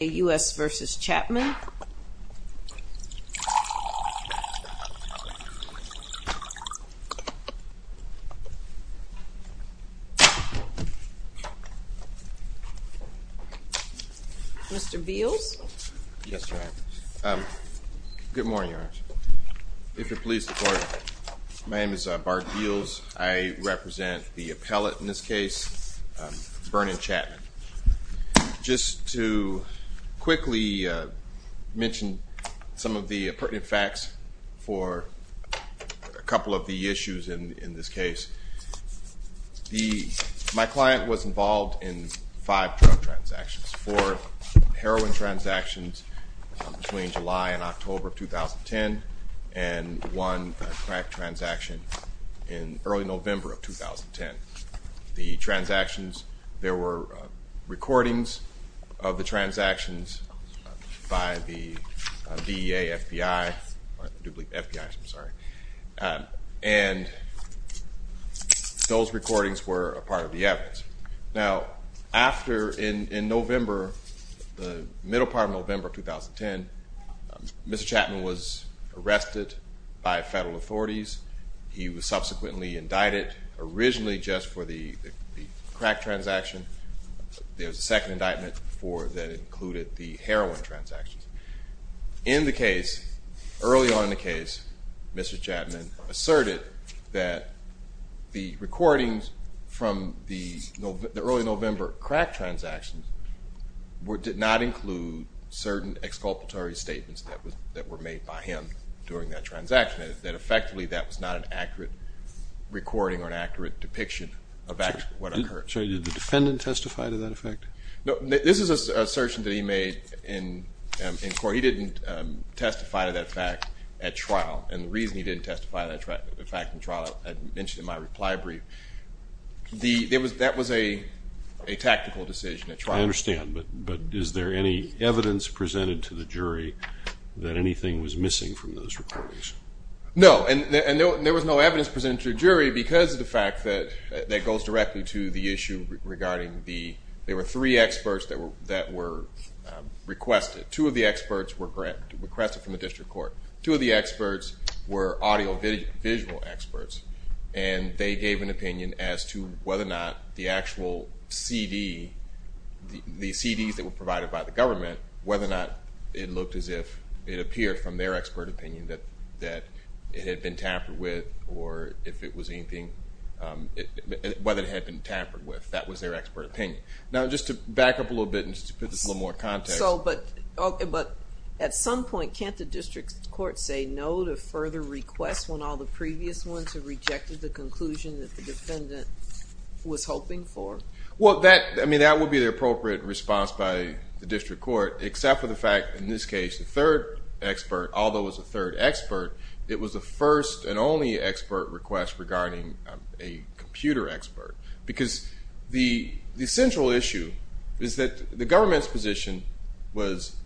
U.S. v. Chapman Mr. Beals Good morning, if you please support my name is Bart Beals. I represent the appellate in this case Vernon Chapman Just to quickly mention some of the pertinent facts for a couple of the issues in this case The my client was involved in five drug transactions for heroin transactions between July and October of 2010 and one crack transaction in early November of 2010 the transactions there were recordings of the transactions by the DEA, FBI I'm sorry and Those recordings were a part of the evidence now after in in November the middle part of November 2010 Mr. Chapman was arrested by federal authorities. He was subsequently indicted originally just for the crack transaction There's a second indictment for that included the heroin transactions in the case early on in the case Mr. Chapman asserted that the recordings from the early November crack transactions Were did not include certain exculpatory statements that was that were made by him during that transaction that effectively that was not an accurate Recording or an accurate depiction of what occurred. So did the defendant testify to that effect? No, this is a assertion that he made in In court, he didn't testify to that fact at trial and the reason he didn't testify to that fact in trial I mentioned in my reply brief the there was that was a Tactical decision at trial. I understand but but is there any evidence presented to the jury that anything was missing from those recordings? No, and there was no evidence presented to a jury because of the fact that that goes directly to the issue regarding the there were three experts that were that were Requested two of the experts were correct requested from the district court two of the experts were audio visual experts And they gave an opinion as to whether or not the actual CD The CDs that were provided by the government whether or not it looked as if it appeared from their expert opinion that that It had been tampered with or if it was anything Whether it had been tampered with that was their expert opinion now just to back up a little bit and just put this little more Context. But at some point Can't the district court say no to further requests when all the previous ones have rejected the conclusion that the defendant Was hoping for? Well that I mean that would be the appropriate response by the district court except for the fact in this case the third Expert although as a third expert. It was the first and only expert request regarding a computer expert because the the central issue is that the government's position was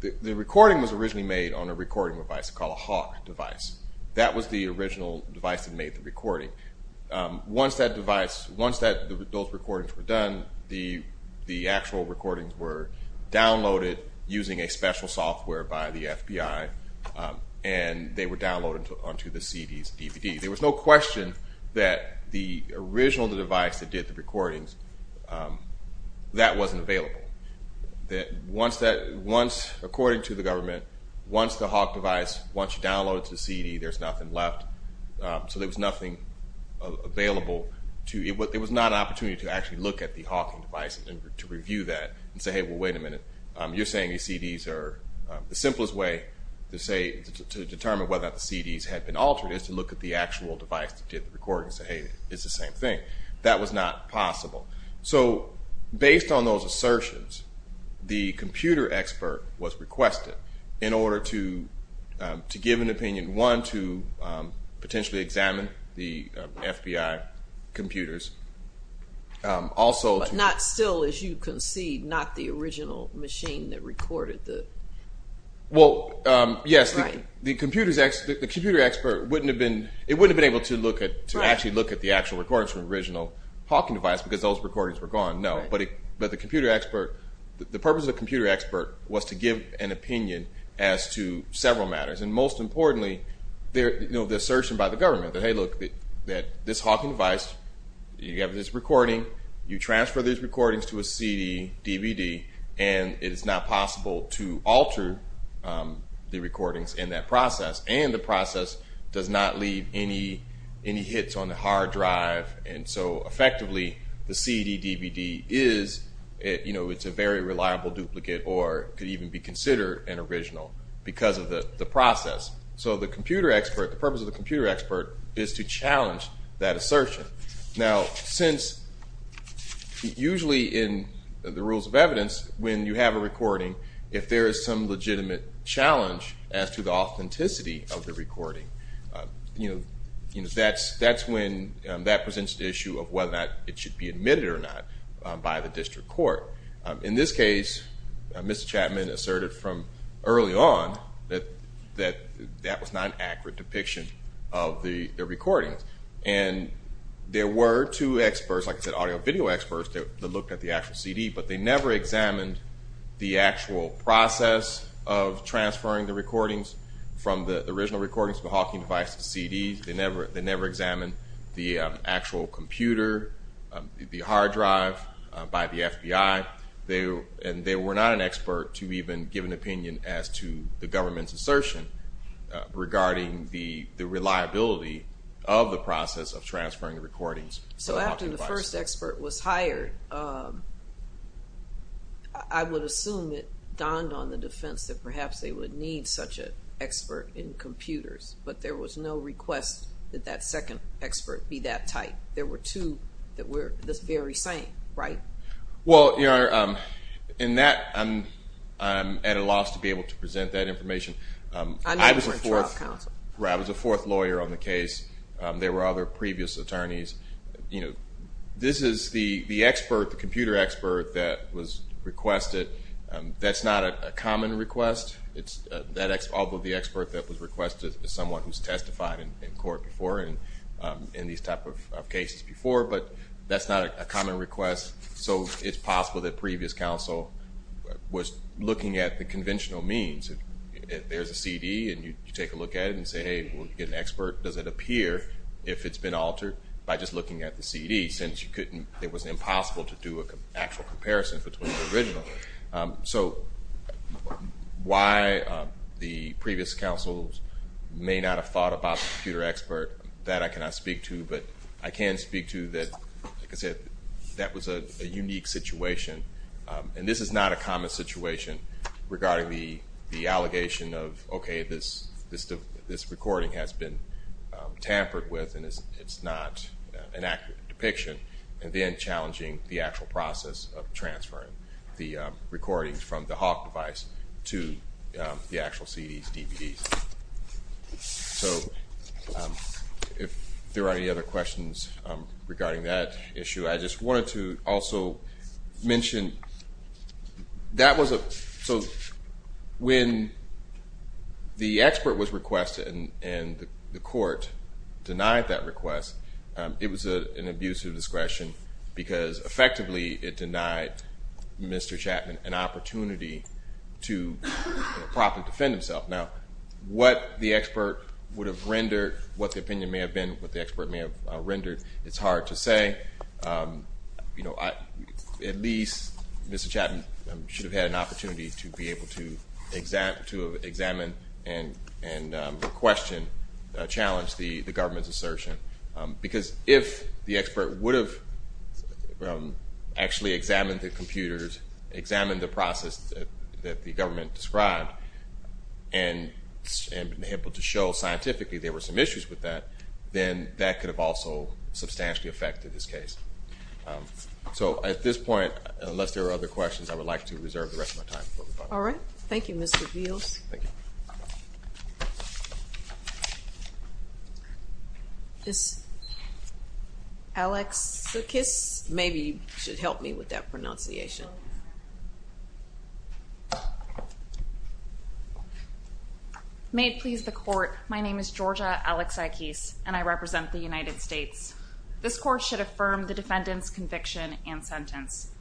The recording was originally made on a recording device called a hawk device. That was the original device that made the recording Once that device once that those recordings were done the the actual recordings were Downloaded using a special software by the FBI And they were downloaded onto the CD's DVD. There was no question that the original device that did the recordings That wasn't available That once that once according to the government once the hawk device once you download it to CD. There's nothing left So there was nothing Available to it was not an opportunity to actually look at the Hawking device and to review that and say hey well wait a minute You're saying these CDs are the simplest way to say to determine whether the CDs had been altered is to look at the actual device That did the recording say hey, it's the same thing that was not possible. So based on those assertions the computer expert was requested in order to to give an opinion one to Potentially examine the FBI computers Also, not still as you can see not the original machine that recorded the Well, yes Right the computers X the computer expert wouldn't have been it would have been able to look at to actually look at the actual records From original Hawking device because those recordings were gone No But it but the computer expert the purpose of computer expert was to give an opinion as to several matters and most importantly There you know the assertion by the government that hey look that that this Hawking device You have this recording you transfer these recordings to a CD DVD and it is not possible to alter The recordings in that process and the process does not leave any any hits on the hard drive and so effectively the CD DVD is You know, it's a very reliable duplicate or could even be considered an original because of the the process so the computer expert the purpose of the computer expert is to challenge that assertion now since Usually in the rules of evidence when you have a recording if there is some legitimate Challenge as to the authenticity of the recording, you know You know, that's that's when that presents the issue of whether or not it should be admitted or not by the district court in this case Mr. Chapman asserted from early on that that that was not an accurate depiction of the recordings and There were two experts like I said audio video experts that looked at the actual CD But they never examined the actual process of transferring the recordings From the original recordings for Hawking devices CDs. They never they never examined the actual computer The hard drive by the FBI they and they were not an expert to even give an opinion as to the government's assertion Regarding the the reliability of the process of transferring the recordings. So after the first expert was hired I Would assume it donned on the defense that perhaps they would need such an expert in computers But there was no request that that second expert be that type there were two that were this very same, right? Well, you know in that I'm I'm at a loss to be able to present that information I was a fourth lawyer on the case. There were other previous attorneys You know, this is the the expert the computer expert that was requested That's not a common request it's that X although the expert that was requested as someone who's testified in court before and In these type of cases before but that's not a common request. So it's possible that previous counsel Was looking at the conventional means There's a CD and you take a look at it and say hey We'll get an expert does it appear if it's been altered by just looking at the CD since you couldn't it was impossible to do Actual comparison between the original so Why? the previous counsel's May not have thought about the computer expert that I cannot speak to but I can speak to that Like I said, that was a unique situation And this is not a common situation Regarding the the allegation of okay this this recording has been Tampered with and it's it's not an accurate depiction and then challenging the actual process of transferring the recordings from the Hawk device to the actual CDs DVDs so If there are any other questions regarding that issue, I just wanted to also mention That was a so when The expert was requested and the court denied that request It was a an abuse of discretion because effectively it denied Mr. Chapman an opportunity to Properly defend himself now what the expert would have rendered what the opinion may have been what the expert may have rendered It's hard to say You know, I at least Mr. Chapman should have had an opportunity to be able to exact to examine and and question challenged the the government's assertion because if the expert would have Actually examined the computers examined the process that the government described and And been able to show scientifically there were some issues with that then that could have also substantially affected this case So at this point unless there are other questions, I would like to reserve the rest of my time. All right Thank You, mr. Beals This Alex the kiss maybe should help me with that pronunciation May it please the court. My name is Georgia Alex I keys and I represent the United States This court should affirm the defendants conviction and sentence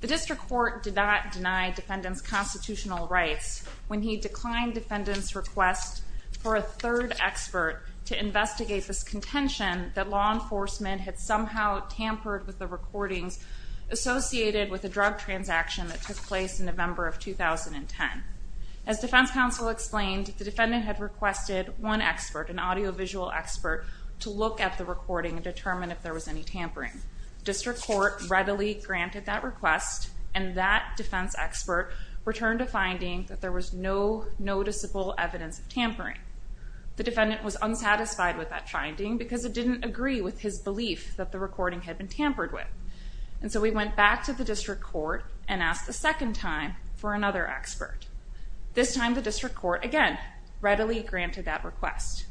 The district court did not deny defendants constitutional rights when he declined defendants request for a third Expert to investigate this contention that law enforcement had somehow tampered with the recordings associated with a drug transaction that took place in November of 2010 as defense counsel explained the defendant had requested one expert an audio-visual expert to look at the recording and Any tampering district court readily granted that request and that defense expert returned a finding that there was no noticeable evidence of tampering The defendant was unsatisfied with that finding because it didn't agree with his belief that the recording had been tampered with And so we went back to the district court and asked the second time for another expert This time the district court again readily granted that request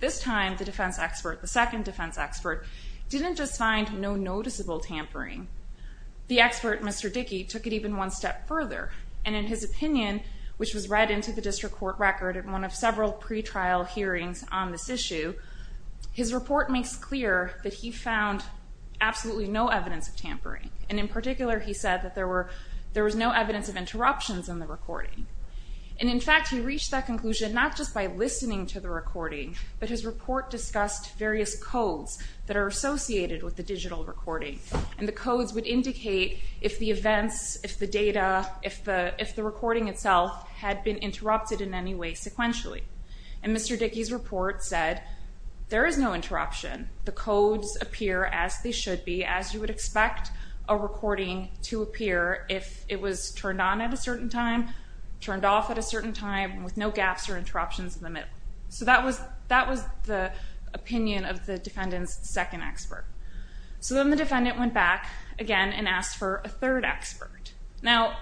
This time the defense expert the second defense expert didn't just find no noticeable tampering The expert mr. Dickey took it even one step further and in his opinion Which was read into the district court record at one of several pretrial hearings on this issue His report makes clear that he found Absolutely, no evidence of tampering and in particular he said that there were there was no evidence of interruptions in the recording And in fact, he reached that conclusion not just by listening to the recording But his report discussed various codes that are associated with the digital recording and the codes would indicate if the events if the data If the if the recording itself had been interrupted in any way sequentially and mr. Dickey's report said there is no interruption the codes appear as they should be as you would expect a Certain time turned off at a certain time with no gaps or interruptions in the middle. So that was that was the Opinion of the defendants second expert. So then the defendant went back again and asked for a third expert now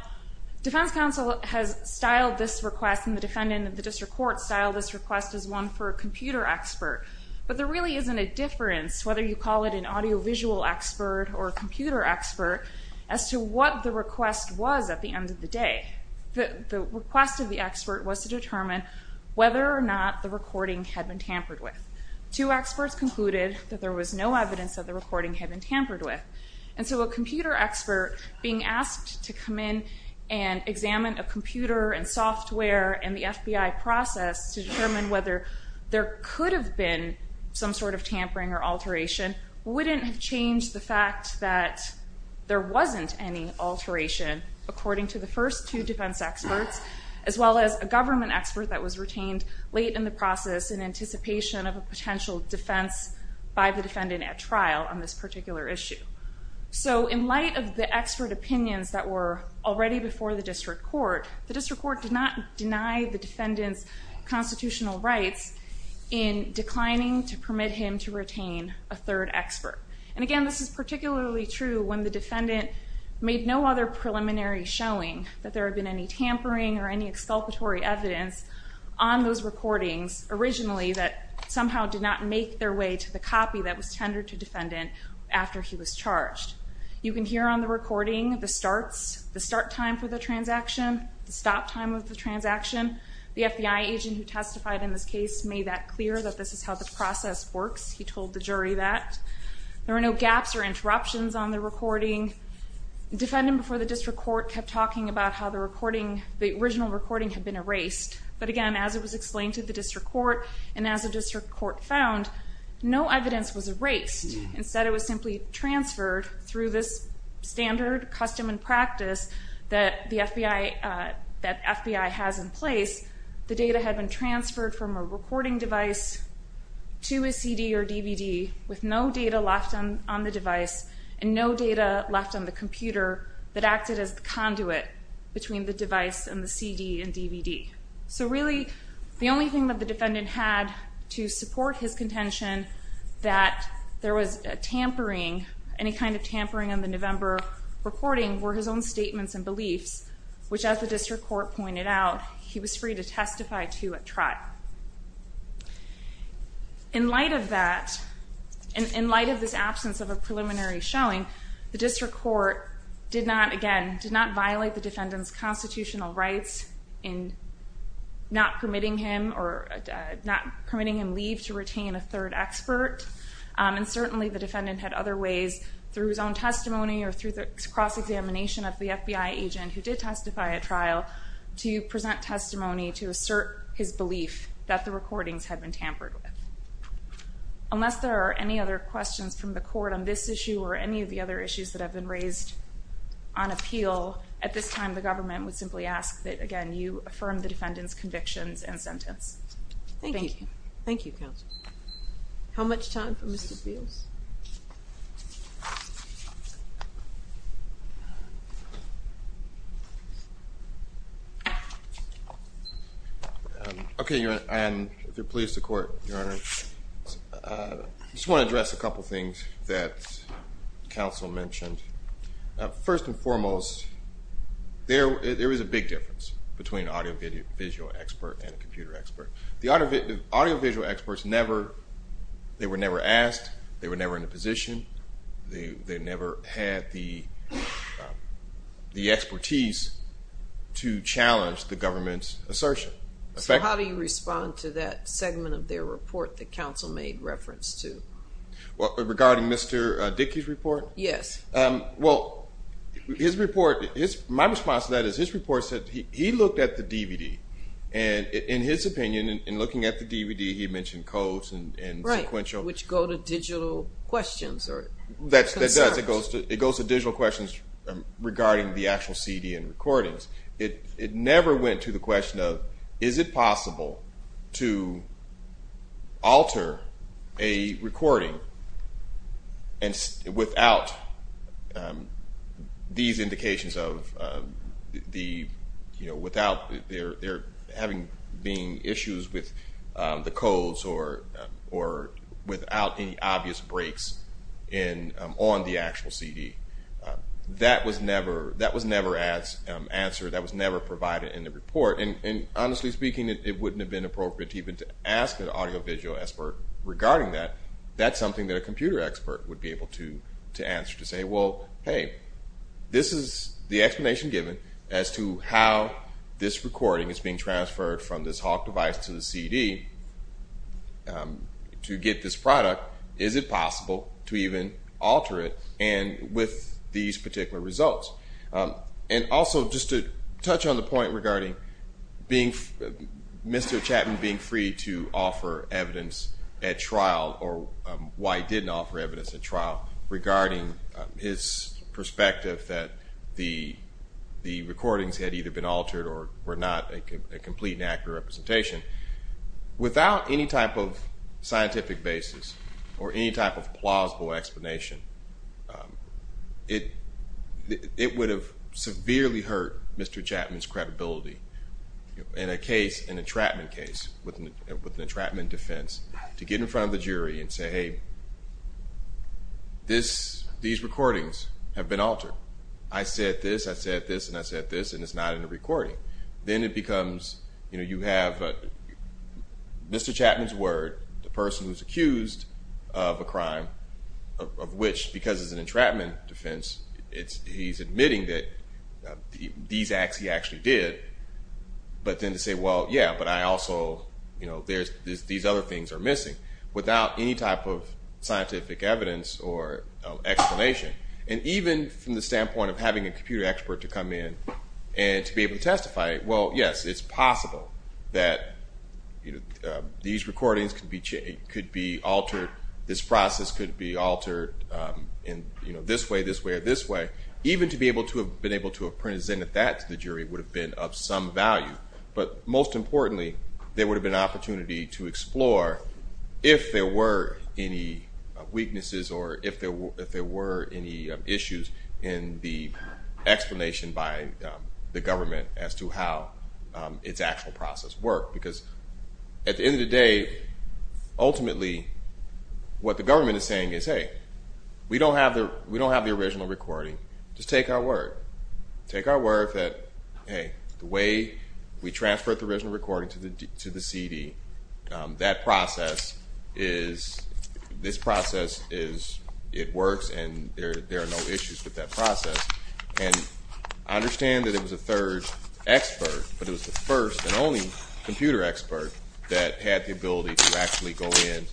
Defense counsel has styled this request and the defendant of the district court styled this request as one for a computer expert But there really isn't a difference whether you call it an audio-visual Expert or a computer expert as to what the request was at the end of the day The request of the expert was to determine whether or not the recording had been tampered with two experts concluded that there was no evidence that the recording had been tampered with and so a computer expert being asked to come in and Examine a computer and software and the FBI process to determine whether there could have been Some sort of tampering or alteration Wouldn't have changed the fact that There wasn't any alteration according to the first two defense experts as well as a government expert that was retained late in the process in anticipation of a Potential defense by the defendant at trial on this particular issue So in light of the expert opinions that were already before the district court, the district court did not deny the defendants constitutional rights in Declining to permit him to retain a third expert. And again, this is particularly true when the defendant made no other Preliminary showing that there have been any tampering or any exculpatory evidence on those recordings Originally that somehow did not make their way to the copy that was tendered to defendant after he was charged You can hear on the recording the starts, the start time for the transaction, the stop time of the transaction The FBI agent who testified in this case made that clear that this is how the process works. He told the jury that There are no gaps or interruptions on the recording Defendant before the district court kept talking about how the recording the original recording had been erased But again as it was explained to the district court and as a district court found No evidence was erased instead. It was simply transferred through this standard custom and practice that the FBI That FBI has in place the data had been transferred from a recording device To a CD or DVD with no data left on on the device and no data left on the computer That acted as the conduit between the device and the CD and DVD So really the only thing that the defendant had to support his contention that There was a tampering any kind of tampering on the November recording were his own statements and beliefs Which as the district court pointed out, he was free to testify to a trial In light of that in Light of this absence of a preliminary showing the district court did not again did not violate the defendant's constitutional rights in Not permitting him or not permitting him leave to retain a third expert And certainly the defendant had other ways through his own testimony or through the cross Examination of the FBI agent who did testify a trial to present testimony to assert his belief that the recordings had been tampered with Unless there are any other questions from the court on this issue or any of the other issues that have been raised on Appeal at this time the government would simply ask that again you affirm the defendant's convictions and sentence. Thank you. Thank you Okay You're and if you're pleased to court your honor Just want to address a couple things that counsel mentioned first and foremost There there is a big difference between audio video visual expert and a computer expert the audio audio visual experts never They were never asked they were never in a position they they never had the the expertise To challenge the government's assertion. So how do you respond to that segment of their report the council made reference to? What regarding Mr. Dickey's report? Yes well his report is my response to that is his report said he looked at the DVD and In his opinion and looking at the DVD. He mentioned codes and right which go to digital questions or that's It goes to digital questions Regarding the actual CD and recordings it it never went to the question of is it possible to? Alter a recording and Without These indications of the you know without they're they're having being issues with the codes or or without any obvious breaks in on the actual CD That was never that was never as Answered that was never provided in the report and and honestly speaking It wouldn't have been appropriate even to ask an audio-visual expert regarding that That's something that a computer expert would be able to to answer to say well Hey, this is the explanation given as to how this recording is being transferred from this Hawk device to the CD To get this product is it possible to even alter it and with these particular results And also just to touch on the point regarding being Mr. Chapman being free to offer evidence at trial or why didn't offer evidence at trial regarding his perspective that the Recordings had either been altered or were not a complete and accurate representation Without any type of scientific basis or any type of plausible explanation it It would have severely hurt. Mr. Chapman's credibility in a case an entrapment case with an entrapment defense to get in front of the jury and say hey This these recordings have been altered I said this I said this and I said this and it's not in the recording Then it becomes you know you have Mr. Chapman's word the person who's accused of a crime Which because it's an entrapment defense. It's he's admitting that These acts he actually did But then to say well yeah, but I also you know there's these other things are missing without any type of scientific evidence or Explanation and even from the standpoint of having a computer expert to come in and to be able to testify well, yes, it's possible that These recordings could be changed could be altered this process could be altered And you know this way this way or this way Even to be able to have been able to have presented that to the jury would have been of some value But most importantly there would have been opportunity to explore if there were any Weaknesses or if there were if there were any issues in the explanation by the government as to how Its actual process work because at the end of the day ultimately What the government is saying is hey? We don't have the we don't have the original recording just take our word Take our word that hey the way we transferred the original recording to the to the CD that process is This process is it works, and there are no issues with that process, and I understand that it was a third expert, but it was the first and only computer expert that had the ability to actually go in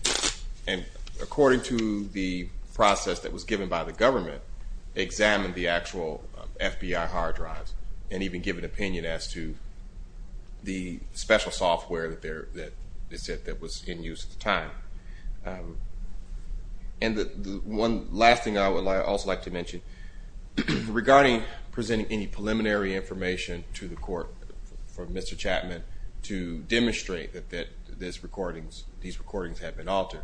and according to the Process that was given by the government examined the actual FBI hard drives and even give an opinion as to The special software that there that is it that was in use at the time and The one last thing I would also like to mention Regarding presenting any preliminary information to the court for Mr.. Chapman to demonstrate that that this recordings These recordings have been altered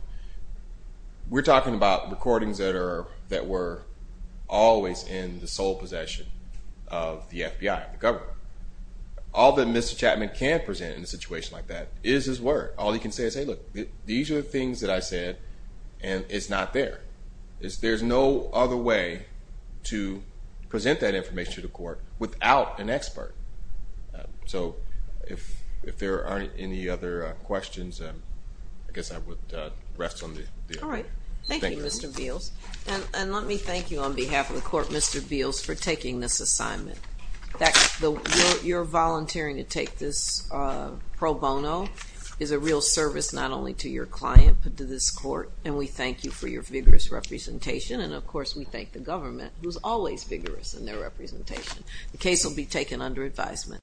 We're talking about recordings that are that were always in the sole possession of the FBI the government All that Mr.. Chapman can't present in a situation like that is his word all you can say is hey look These are the things that I said and it's not there is there's no other way To present that information to the court without an expert So if if there aren't any other questions, I guess I would rest on the all right Thank you, Mr.. Beals, and let me thank you on behalf of the court Mr.. Beals for taking this assignment That's the you're volunteering to take this Pro bono is a real service not only to your client, but to this court, and we thank you for your vigorous representation And of course we thank the government who's always vigorous in their representation the case will be taken under advisement